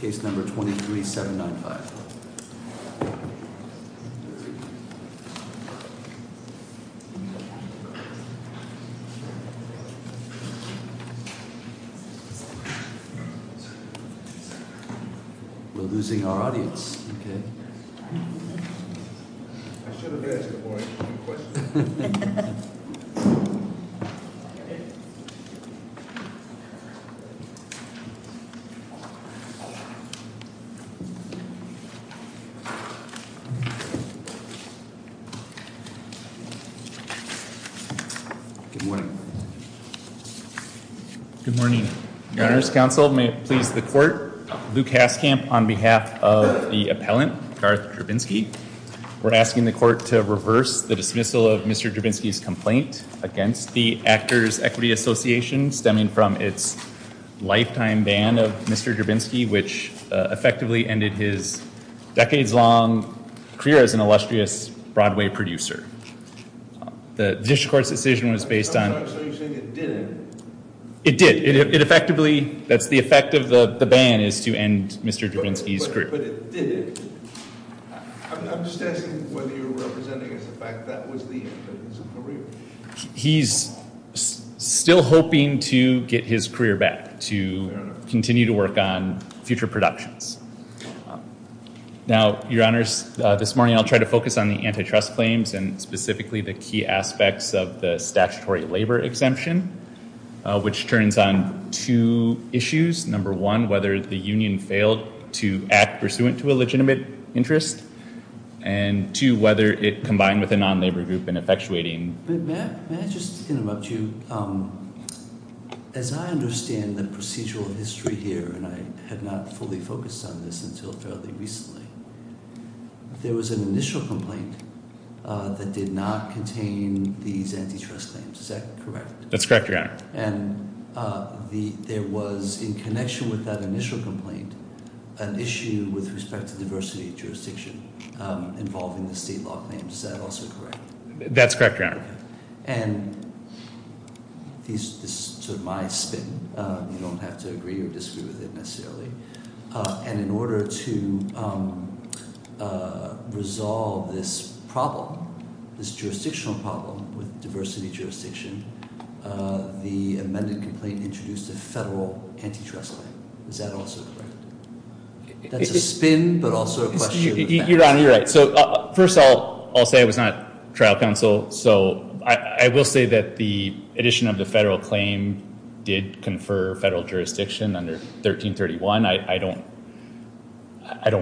Case No. 23-795. We're losing our audience, okay? I should have asked the board a few questions. We're asking the court to reverse the dismissal of Mr. Drabinsky's complaint against the Actors' Equity Association, stemming from its lifetime ban of Mr. Drabinsky, which effectively ended his decades-long career as an illustrious Broadway producer. The district court's decision was based on... It did. is to end Mr. Drabinsky's career. But it didn't. I'm just asking whether you're representing as a fact that was the end of his career. He's still hoping to get his career back, to continue to work on future productions. Now, Your Honors, this morning I'll try to focus on the antitrust claims, and specifically the key aspects of the statutory labor exemption, which turns on two issues. Number one, whether the union failed to act pursuant to a legitimate interest, and two, whether it combined with a non-labor group in effectuating... May I just interrupt you? As I understand the procedural history here, and I have not fully focused on this until fairly recently, there was an initial complaint Is that correct? That's correct, Your Honor. And there was, in connection with that initial complaint, an issue with respect to diversity jurisdiction involving the state law claims. Is that also correct? That's correct, Your Honor. And this is sort of my spin. You don't have to agree or disagree with it necessarily. And in order to resolve this problem, this jurisdictional problem with diversity jurisdiction, the amended complaint introduced a federal antitrust claim. Is that also correct? That's a spin, but also a question. Your Honor, you're right. So first of all, I'll say I was not trial counsel, so I will say that the addition of the federal claim did confer federal jurisdiction under 1331. I don't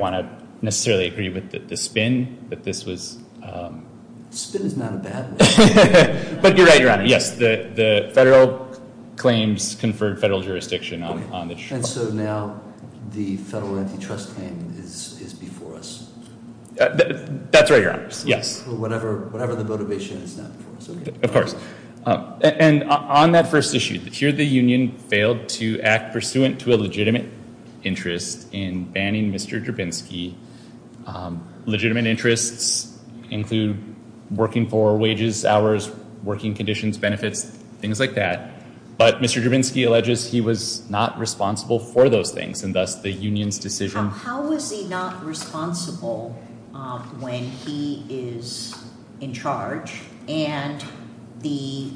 want to necessarily agree with the spin, but this was... The spin is not a bad one. But you're right, Your Honor. Yes, the federal claims conferred federal jurisdiction. And so now the federal antitrust claim is before us. That's right, Your Honor. Whatever the motivation, it's not before us. Of course. And on that first issue, here the union failed to act pursuant to a legitimate interest in banning Mr. Drabinsky. Legitimate interests include working for wages, hours, working conditions, benefits, things like that. But Mr. Drabinsky alleges he was not responsible for those things and thus the union's decision... How was he not responsible when he is in charge and the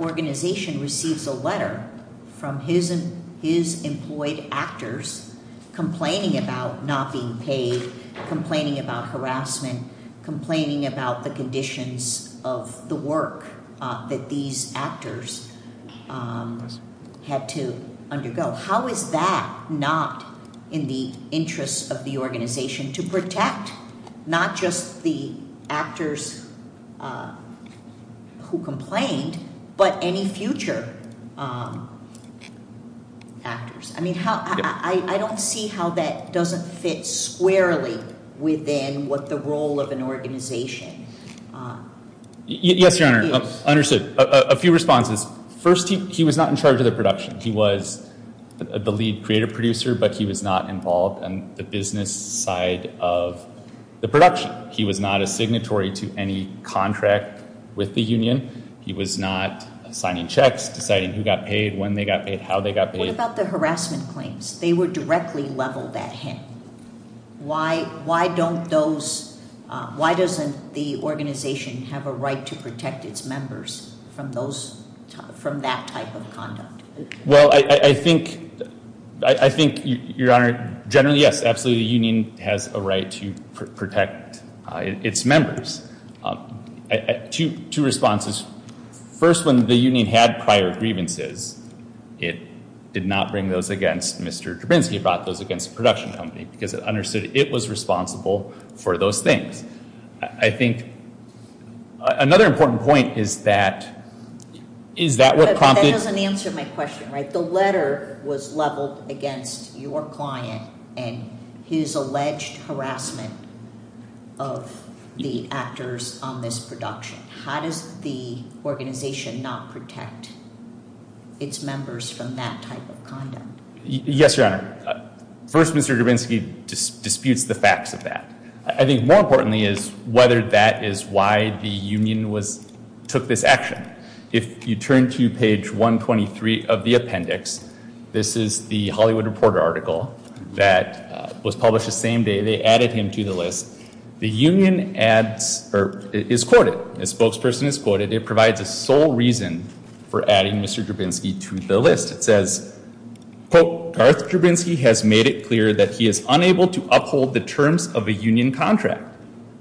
organization receives a letter from his employed actors complaining about not being paid, complaining about harassment, complaining about the conditions of the work that these actors had to undergo? How is that not in the interest of the organization to protect not just the actors who complained but any future actors? I don't see how that doesn't fit squarely within what the role of an organization is. Yes, Your Honor. Understood. A few responses. First, he was not in charge of the production. He was the lead creative producer, but he was not involved in the business side of the production. He was not a signatory to any contract with the union. He was not signing checks, deciding who got paid, when they got paid, how they got paid. What about the harassment claims? They were directly leveled at him. Why doesn't the organization have a right to protect its members from that type of conduct? Well, I think, Your Honor, generally, yes, absolutely. The union has a right to protect its members. Two responses. First, when the union had prior grievances, it did not bring those against Mr. Drabinski. It brought those against the production company because it understood it was responsible for those things. I think another important point is that what prompted— But that doesn't answer my question, right? The letter was leveled against your client and his alleged harassment of the actors on this production. How does the organization not protect its members from that type of conduct? Yes, Your Honor. First, Mr. Drabinski disputes the facts of that. I think more importantly is whether that is why the union took this action. If you turn to page 123 of the appendix, this is the Hollywood Reporter article that was published the same day. They added him to the list. The union is quoted. A spokesperson is quoted. It provides a sole reason for adding Mr. Drabinski to the list. It says, quote, Darth Drabinski has made it clear that he is unable to uphold the terms of a union contract,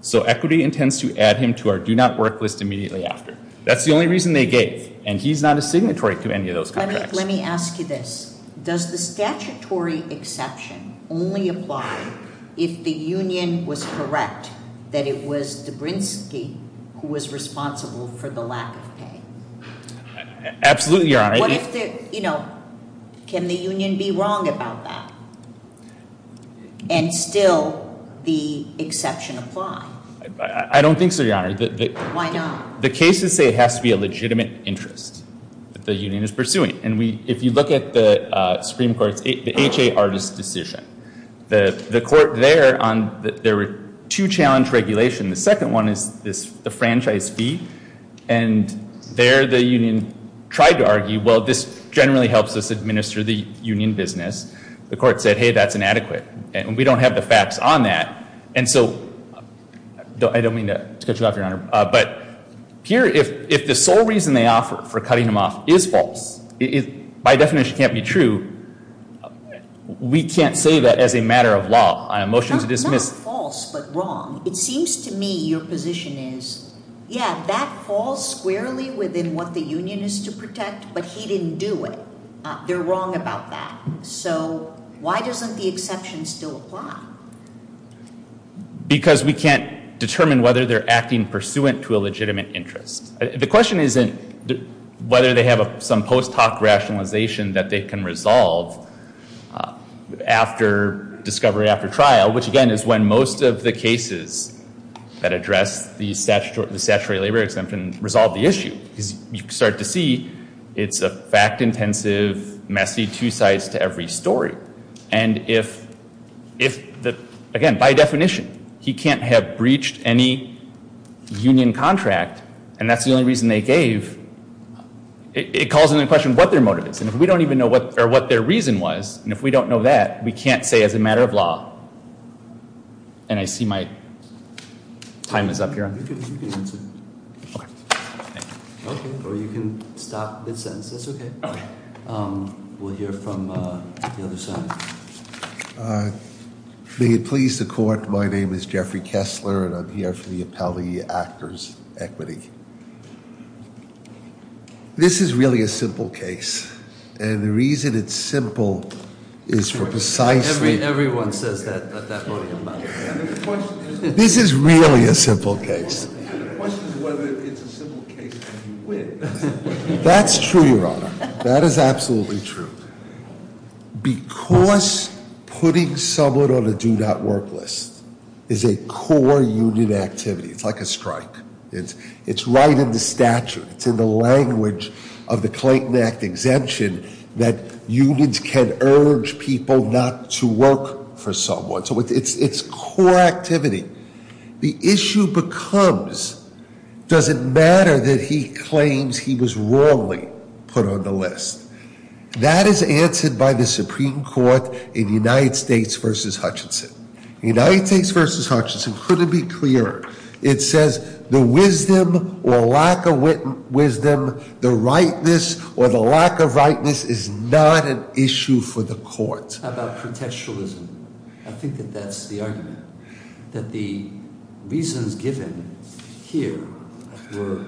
so Equity intends to add him to our Do Not Work list immediately after. That's the only reason they gave, and he's not a signatory to any of those contracts. Let me ask you this. Does the statutory exception only apply if the union was correct that it was Drabinski who was responsible for the lack of pay? Absolutely, Your Honor. What if the, you know, can the union be wrong about that, and still the exception apply? I don't think so, Your Honor. Why not? The cases say it has to be a legitimate interest that the union is pursuing. And if you look at the Supreme Court's HA Artists' Decision, the court there, there were two challenge regulations. The second one is the franchise fee. And there the union tried to argue, well, this generally helps us administer the union business. The court said, hey, that's inadequate, and we don't have the facts on that. And so I don't mean to cut you off, Your Honor, but here if the sole reason they offer for cutting him off is false, by definition can't be true, we can't say that as a matter of law on a motion to dismiss. Not false, but wrong. It seems to me your position is, yeah, that falls squarely within what the union is to protect, but he didn't do it. They're wrong about that. So why doesn't the exception still apply? Because we can't determine whether they're acting pursuant to a legitimate interest. The question isn't whether they have some post hoc rationalization that they can resolve after discovery, after trial, which, again, is when most of the cases that address the statutory labor exemption resolve the issue. Because you start to see it's a fact intensive, messy two sides to every story. And if, again, by definition, he can't have breached any union contract, and that's the only reason they gave, it calls into question what their motive is. And if we don't even know what their reason was, and if we don't know that, we can't say as a matter of law. And I see my time is up, Your Honor. You can answer. Okay. Thank you. Okay, or you can stop this sentence. That's okay. We'll hear from the other side. May it please the court, my name is Jeffrey Kessler, and I'm here for the appellee actor's equity. This is really a simple case, and the reason it's simple is for precisely- Everyone says that at that podium, by the way. This is really a simple case. The question is whether it's a simple case and you win. That's true, Your Honor. That is absolutely true. Because putting someone on a do not work list is a core union activity, it's like a strike. It's right in the statute. It's in the language of the Clayton Act exemption that unions can urge people not to work for someone. So it's core activity. The issue becomes, does it matter that he claims he was wrongly put on the list? That is answered by the Supreme Court in United States v. Hutchinson. United States v. Hutchinson couldn't be clearer. It says the wisdom or lack of wisdom, the rightness or the lack of rightness is not an issue for the court. How about pretextualism? I think that that's the argument. That the reasons given here were,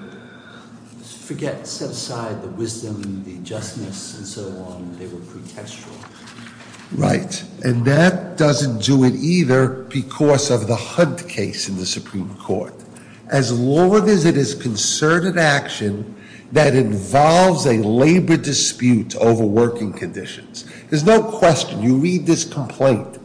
forget, set aside the wisdom, the justness, and so on. They were pretextual. Right. And that doesn't do it either because of the Hunt case in the Supreme Court. As long as it is concerted action that involves a labor dispute over working conditions. There's no question. You read this complaint.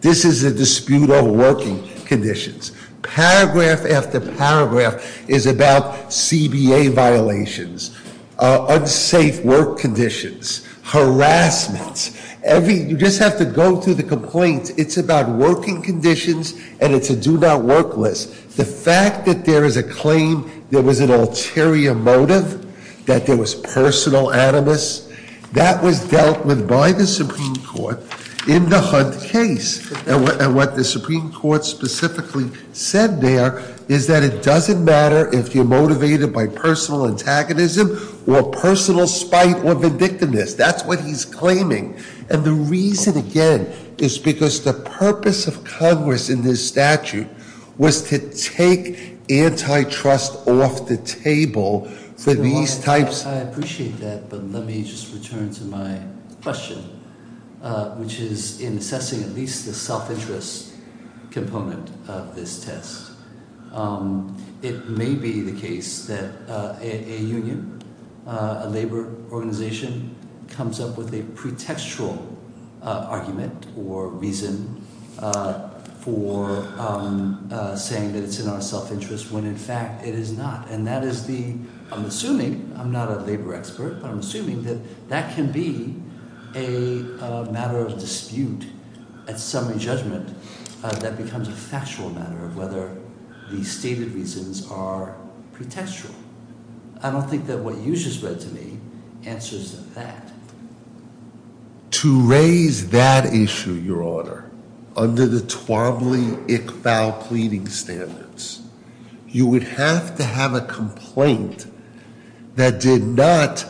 This is a dispute over working conditions. Paragraph after paragraph is about CBA violations, unsafe work conditions, harassment. You just have to go through the complaints. It's about working conditions and it's a do not work list. The fact that there is a claim there was an ulterior motive, that there was personal animus. That was dealt with by the Supreme Court in the Hunt case. And what the Supreme Court specifically said there is that it doesn't matter if you're motivated by personal antagonism or personal spite or vindictiveness. That's what he's claiming. And the reason, again, is because the purpose of Congress in this statute was to take antitrust off the table for these types- I appreciate that, but let me just return to my question, which is in assessing at least the self-interest component of this test. It may be the case that a union, a labor organization, comes up with a pretextual argument or reason for saying that it's in our self-interest when, in fact, it is not. And that is the- I'm assuming, I'm not a labor expert, but I'm assuming that that can be a matter of dispute at summary judgment that becomes a factual matter of whether the stated reasons are pretextual. I don't think that what you just read to me answers that. To raise that issue, Your Honor, under the Twombly-Ickfau pleading standards, you would have to have a complaint that did not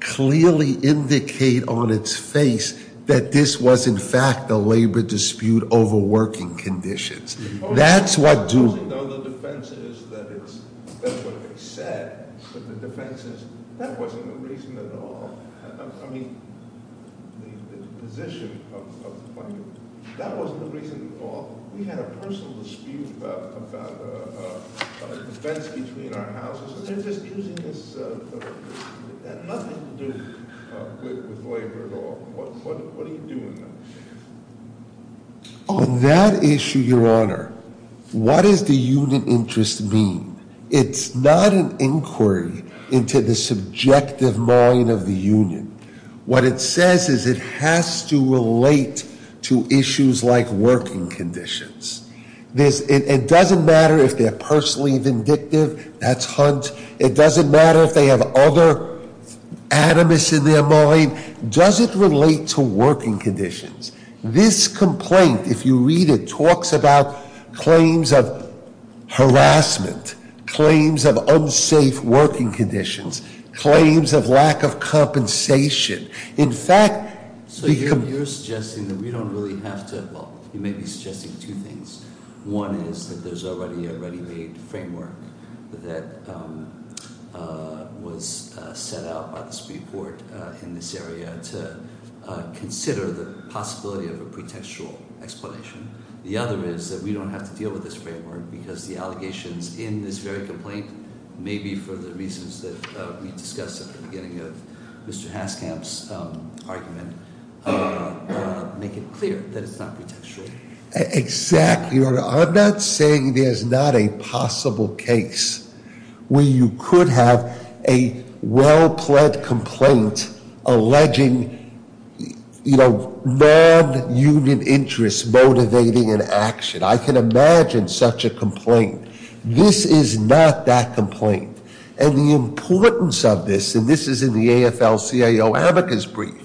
clearly indicate on its face that this was in fact a labor dispute over working conditions. That's what do- I'm just using, though, the defenses that it's- that's what they said, but the defenses- that wasn't the reason at all. I mean, the position of the plaintiff- that wasn't the reason at all. We had a personal dispute about a defense between our houses, and they're just using this- it had nothing to do with labor at all. What are you doing, though? On that issue, Your Honor, what does the union interest mean? It's not an inquiry into the subjective mind of the union. What it says is it has to relate to issues like working conditions. It doesn't matter if they're personally vindictive. That's Hunt. It doesn't matter if they have other animus in their mind. Does it relate to working conditions? This complaint, if you read it, talks about claims of harassment, claims of unsafe working conditions, claims of lack of compensation. In fact- So you're suggesting that we don't really have to- well, you may be suggesting two things. One is that there's already a ready-made framework that was set out by this report in this area to consider the possibility of a pretextual explanation. The other is that we don't have to deal with this framework because the allegations in this very complaint, maybe for the reasons that we discussed at the beginning of Mr. Haskamp's argument, make it clear that it's not pretextual. Exactly. I'm not saying there's not a possible case where you could have a well-pled complaint alleging non-union interests motivating an action. I can imagine such a complaint. This is not that complaint. And the importance of this, and this is in the AFL-CIO amicus brief,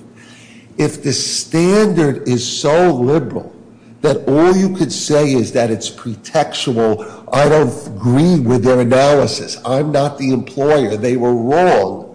if the standard is so liberal that all you could say is that it's pretextual, I don't agree with their analysis, I'm not the employer, they were wrong,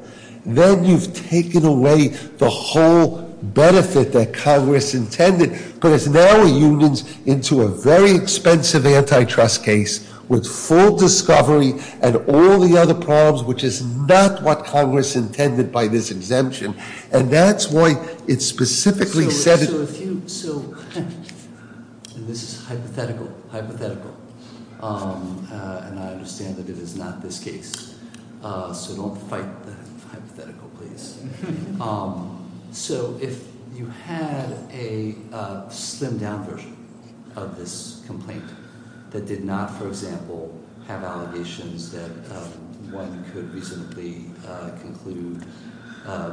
then you've taken away the whole benefit that Congress intended, put its narrow unions into a very expensive antitrust case with full discovery and all the other problems, which is not what Congress intended by this exemption. And that's why it specifically said- So if you, so, and this is hypothetical, hypothetical. And I understand that it is not this case. So don't fight the hypothetical, please. So if you had a slimmed-down version of this complaint that did not, for example, have allegations that one could reasonably conclude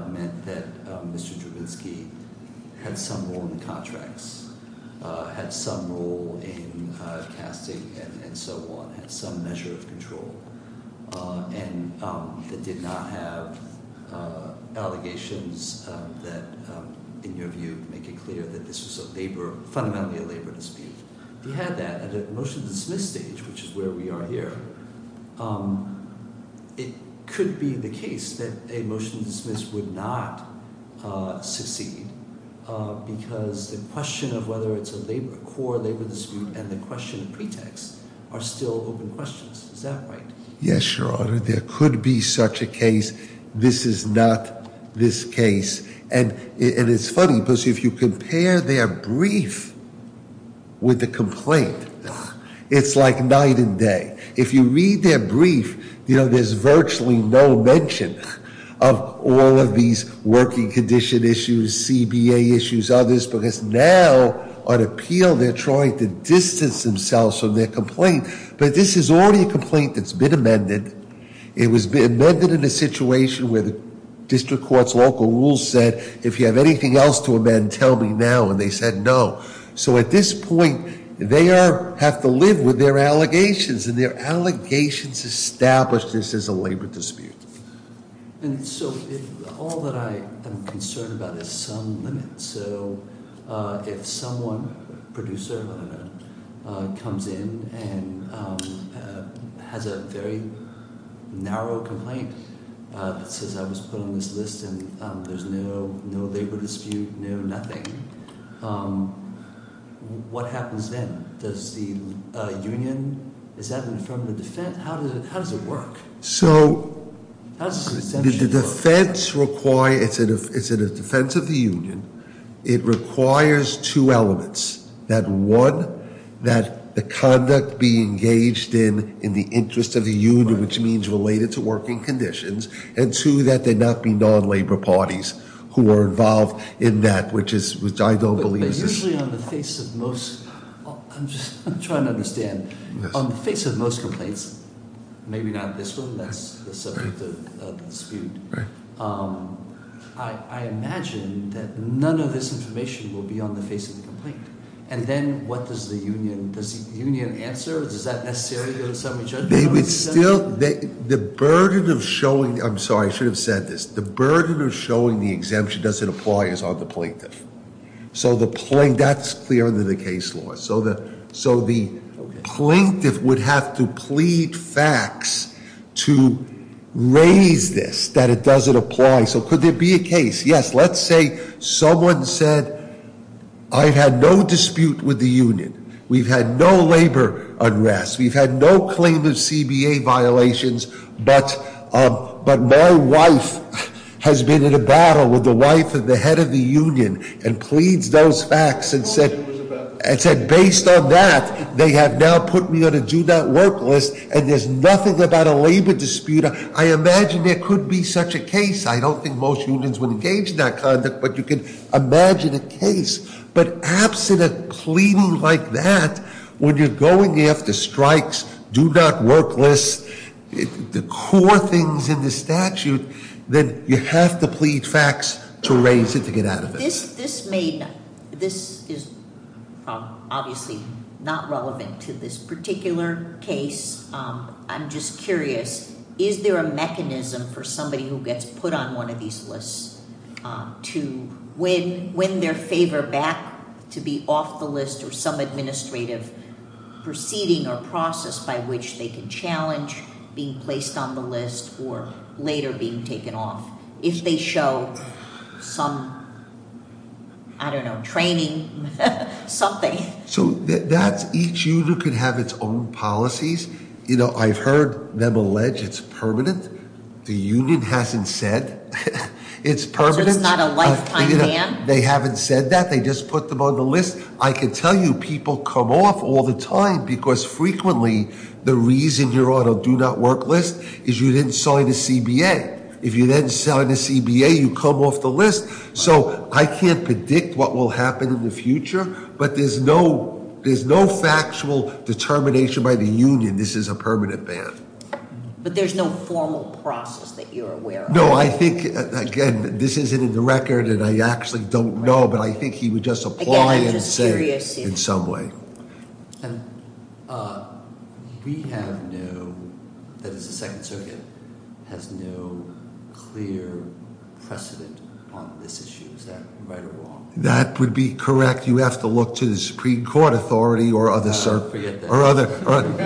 meant that Mr. Drabinski had some role in the contracts, had some role in casting and so on, had some measure of control, and that did not have allegations that, in your view, make it clear that this was fundamentally a labor dispute. If you had that at a motion-to-dismiss stage, which is where we are here, it could be the case that a motion-to-dismiss would not succeed because the question of whether it's a core labor dispute and the question of pretext are still open questions. Is that right? Yes, Your Honor. There could be such a case. This is not this case. And it's funny because if you compare their brief with the complaint, it's like night and day. If you read their brief, you know, there's virtually no mention of all of these working condition issues, CBA issues, others, because now on appeal they're trying to distance themselves from their complaint. But this is already a complaint that's been amended. It was amended in a situation where the district court's local rules said, if you have anything else to amend, tell me now, and they said no. So at this point, they have to live with their allegations, and their allegations established this as a labor dispute. And so all that I am concerned about is some limit. So if someone, producer, whatever, comes in and has a very narrow complaint that says I was put on this list and there's no labor dispute, no nothing, what happens then? Does the union, is that an affirmative defense? How does it work? So the defense requires, is it a defense of the union? It requires two elements. That one, that the conduct be engaged in in the interest of the union, which means related to working conditions. And two, that there not be non-labor parties who are involved in that, which I don't believe is- I'm just trying to understand. On the face of most complaints, maybe not this one, that's the subject of the dispute. I imagine that none of this information will be on the face of the complaint. And then what does the union, does the union answer? Does that necessarily go to summary judgment? They would still, the burden of showing, I'm sorry, I should have said this. The burden of showing the exemption doesn't apply is on the plaintiff. That's clear under the case law. So the plaintiff would have to plead facts to raise this, that it doesn't apply. So could there be a case? Yes, let's say someone said, I've had no dispute with the union. We've had no labor unrest. We've had no claim of CBA violations. But my wife has been in a battle with the wife of the head of the union. And pleads those facts and said, based on that, they have now put me on a do not work list. And there's nothing about a labor dispute. I imagine there could be such a case. I don't think most unions would engage in that conduct. But you can imagine a case. But absent a claim like that, when you're going after strikes, do not work lists, the core things in the statute, then you have to plead facts to raise it to get out of it. This is obviously not relevant to this particular case. I'm just curious. Is there a mechanism for somebody who gets put on one of these lists to win their favor back to be off the list or some administrative proceeding or process by which they can challenge being placed on the list or later being taken off if they show some, I don't know, training, something. So that's each union can have its own policies. I've heard them allege it's permanent. The union hasn't said. It's permanent. So it's not a lifetime ban? They haven't said that. They just put them on the list. I can tell you people come off all the time because frequently the reason you're on a do not work list is you didn't sign a CBA. If you didn't sign a CBA, you come off the list. So I can't predict what will happen in the future, but there's no factual determination by the union this is a permanent ban. But there's no formal process that you're aware of? No, I think, again, this isn't in the record and I actually don't know, but I think he would just apply and say in some way. We have no, that is the second circuit, has no clear precedent on this issue. Is that right or wrong? That would be correct. You have to look to the Supreme Court authority or other circuits. There are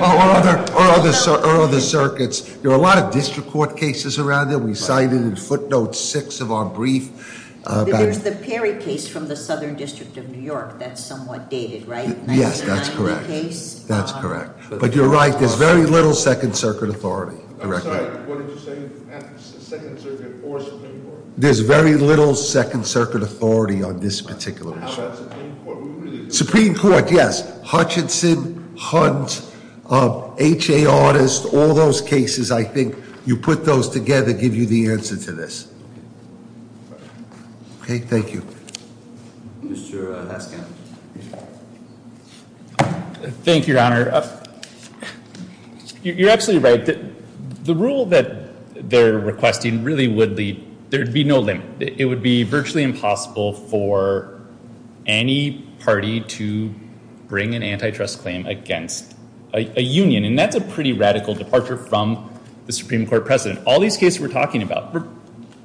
a lot of district court cases around there. We cited in footnotes six of our brief. There's the Perry case from the Southern District of New York that's somewhat dated, right? Yes, that's correct. That's correct. But you're right, there's very little second circuit authority. I'm sorry, what did you say? Second circuit or Supreme Court? There's very little second circuit authority on this particular issue. How about Supreme Court? Supreme Court, yes. Hutchinson, Hunt, H.A. All those cases I think you put those together give you the answer to this. Okay, thank you. Mr. Haskin. Thank you, Your Honor. You're absolutely right. The rule that they're requesting really would be, there would be no limit. It would be virtually impossible for any party to bring an antitrust claim against a union. And that's a pretty radical departure from the Supreme Court precedent. All these cases we're talking about,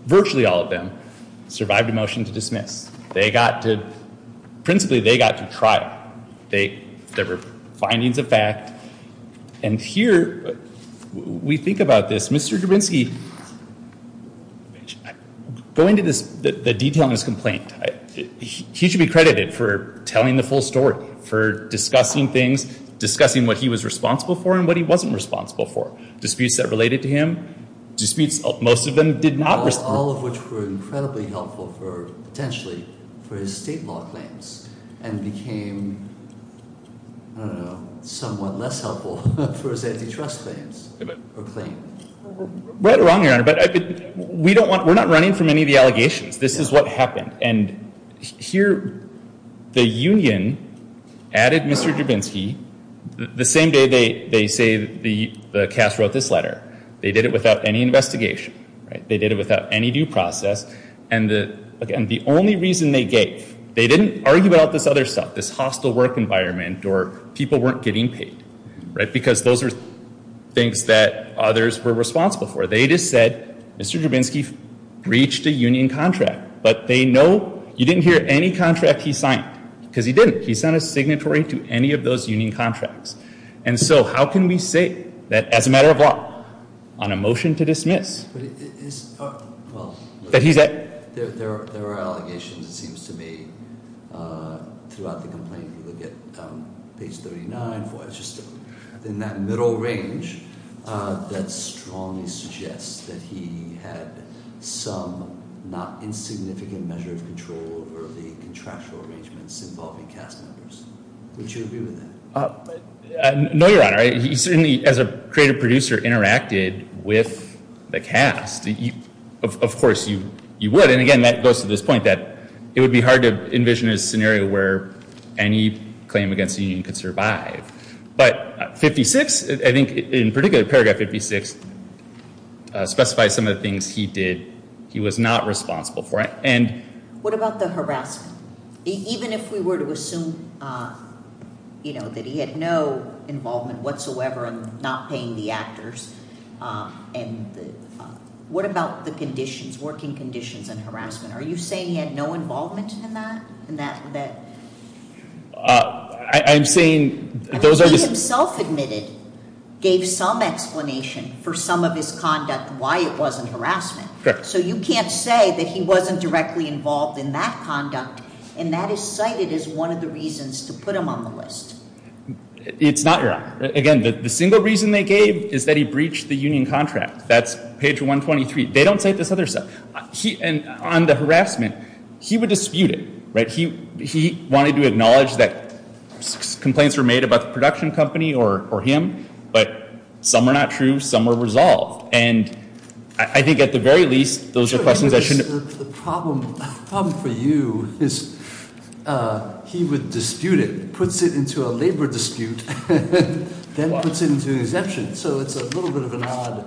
virtually all of them, survived a motion to dismiss. They got to, principally they got to trial. There were findings of fact. And here, we think about this. Mr. Dubinsky, going to the detail in his complaint, he should be credited for telling the full story, for discussing things, discussing what he was responsible for and what he wasn't responsible for. Disputes that related to him, disputes, most of them did not. All of which were incredibly helpful for, potentially, for his state law claims. And became, I don't know, somewhat less helpful for his antitrust claims. Right or wrong, Your Honor. We're not running from any of the allegations. This is what happened. And here, the union added Mr. Dubinsky, the same day they say the cast wrote this letter. They did it without any investigation. They did it without any due process. And the only reason they gave, they didn't argue about this other stuff. This hostile work environment or people weren't getting paid. Because those are things that others were responsible for. They just said, Mr. Dubinsky reached a union contract. But they know, you didn't hear any contract he signed. Because he didn't. He sent a signatory to any of those union contracts. And so, how can we say that, as a matter of law, on a motion to dismiss. Well, there are allegations, it seems to me, throughout the complaint. If you look at page 39, it's just in that middle range. That strongly suggests that he had some not insignificant measure of control over the contractual arrangements involving cast members. Would you agree with that? No, Your Honor. He certainly, as a creative producer, interacted with the cast. Of course, you would. And, again, that goes to this point that it would be hard to envision a scenario where any claim against the union could survive. But 56, I think, in particular, paragraph 56, specifies some of the things he did he was not responsible for. What about the harassment? Even if we were to assume that he had no involvement whatsoever in not paying the actors. What about the conditions, working conditions, and harassment? Are you saying he had no involvement in that? I'm saying those are just- He himself admitted, gave some explanation for some of his conduct, why it wasn't harassment. So you can't say that he wasn't directly involved in that conduct. And that is cited as one of the reasons to put him on the list. It's not, Your Honor. Again, the single reason they gave is that he breached the union contract. That's page 123. They don't say this other stuff. And on the harassment, he would dispute it. He wanted to acknowledge that complaints were made about the production company or him. But some were not true. Some were resolved. And I think at the very least, those are questions I shouldn't- The problem for you is he would dispute it, puts it into a labor dispute, then puts it into an exemption. So it's a little bit of an odd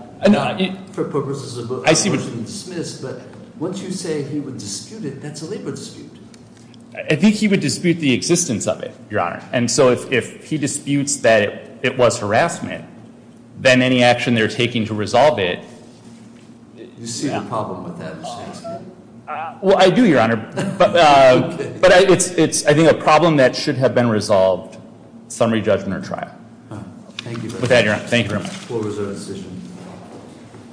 for purposes of motion to dismiss. But once you say he would dispute it, that's a labor dispute. I think he would dispute the existence of it, Your Honor. And so if he disputes that it was harassment, then any action they're taking to resolve it- You see the problem with that? Well, I do, Your Honor. But it's, I think, a problem that should have been resolved, summary judgment or trial. Thank you. Thank you, Your Honor.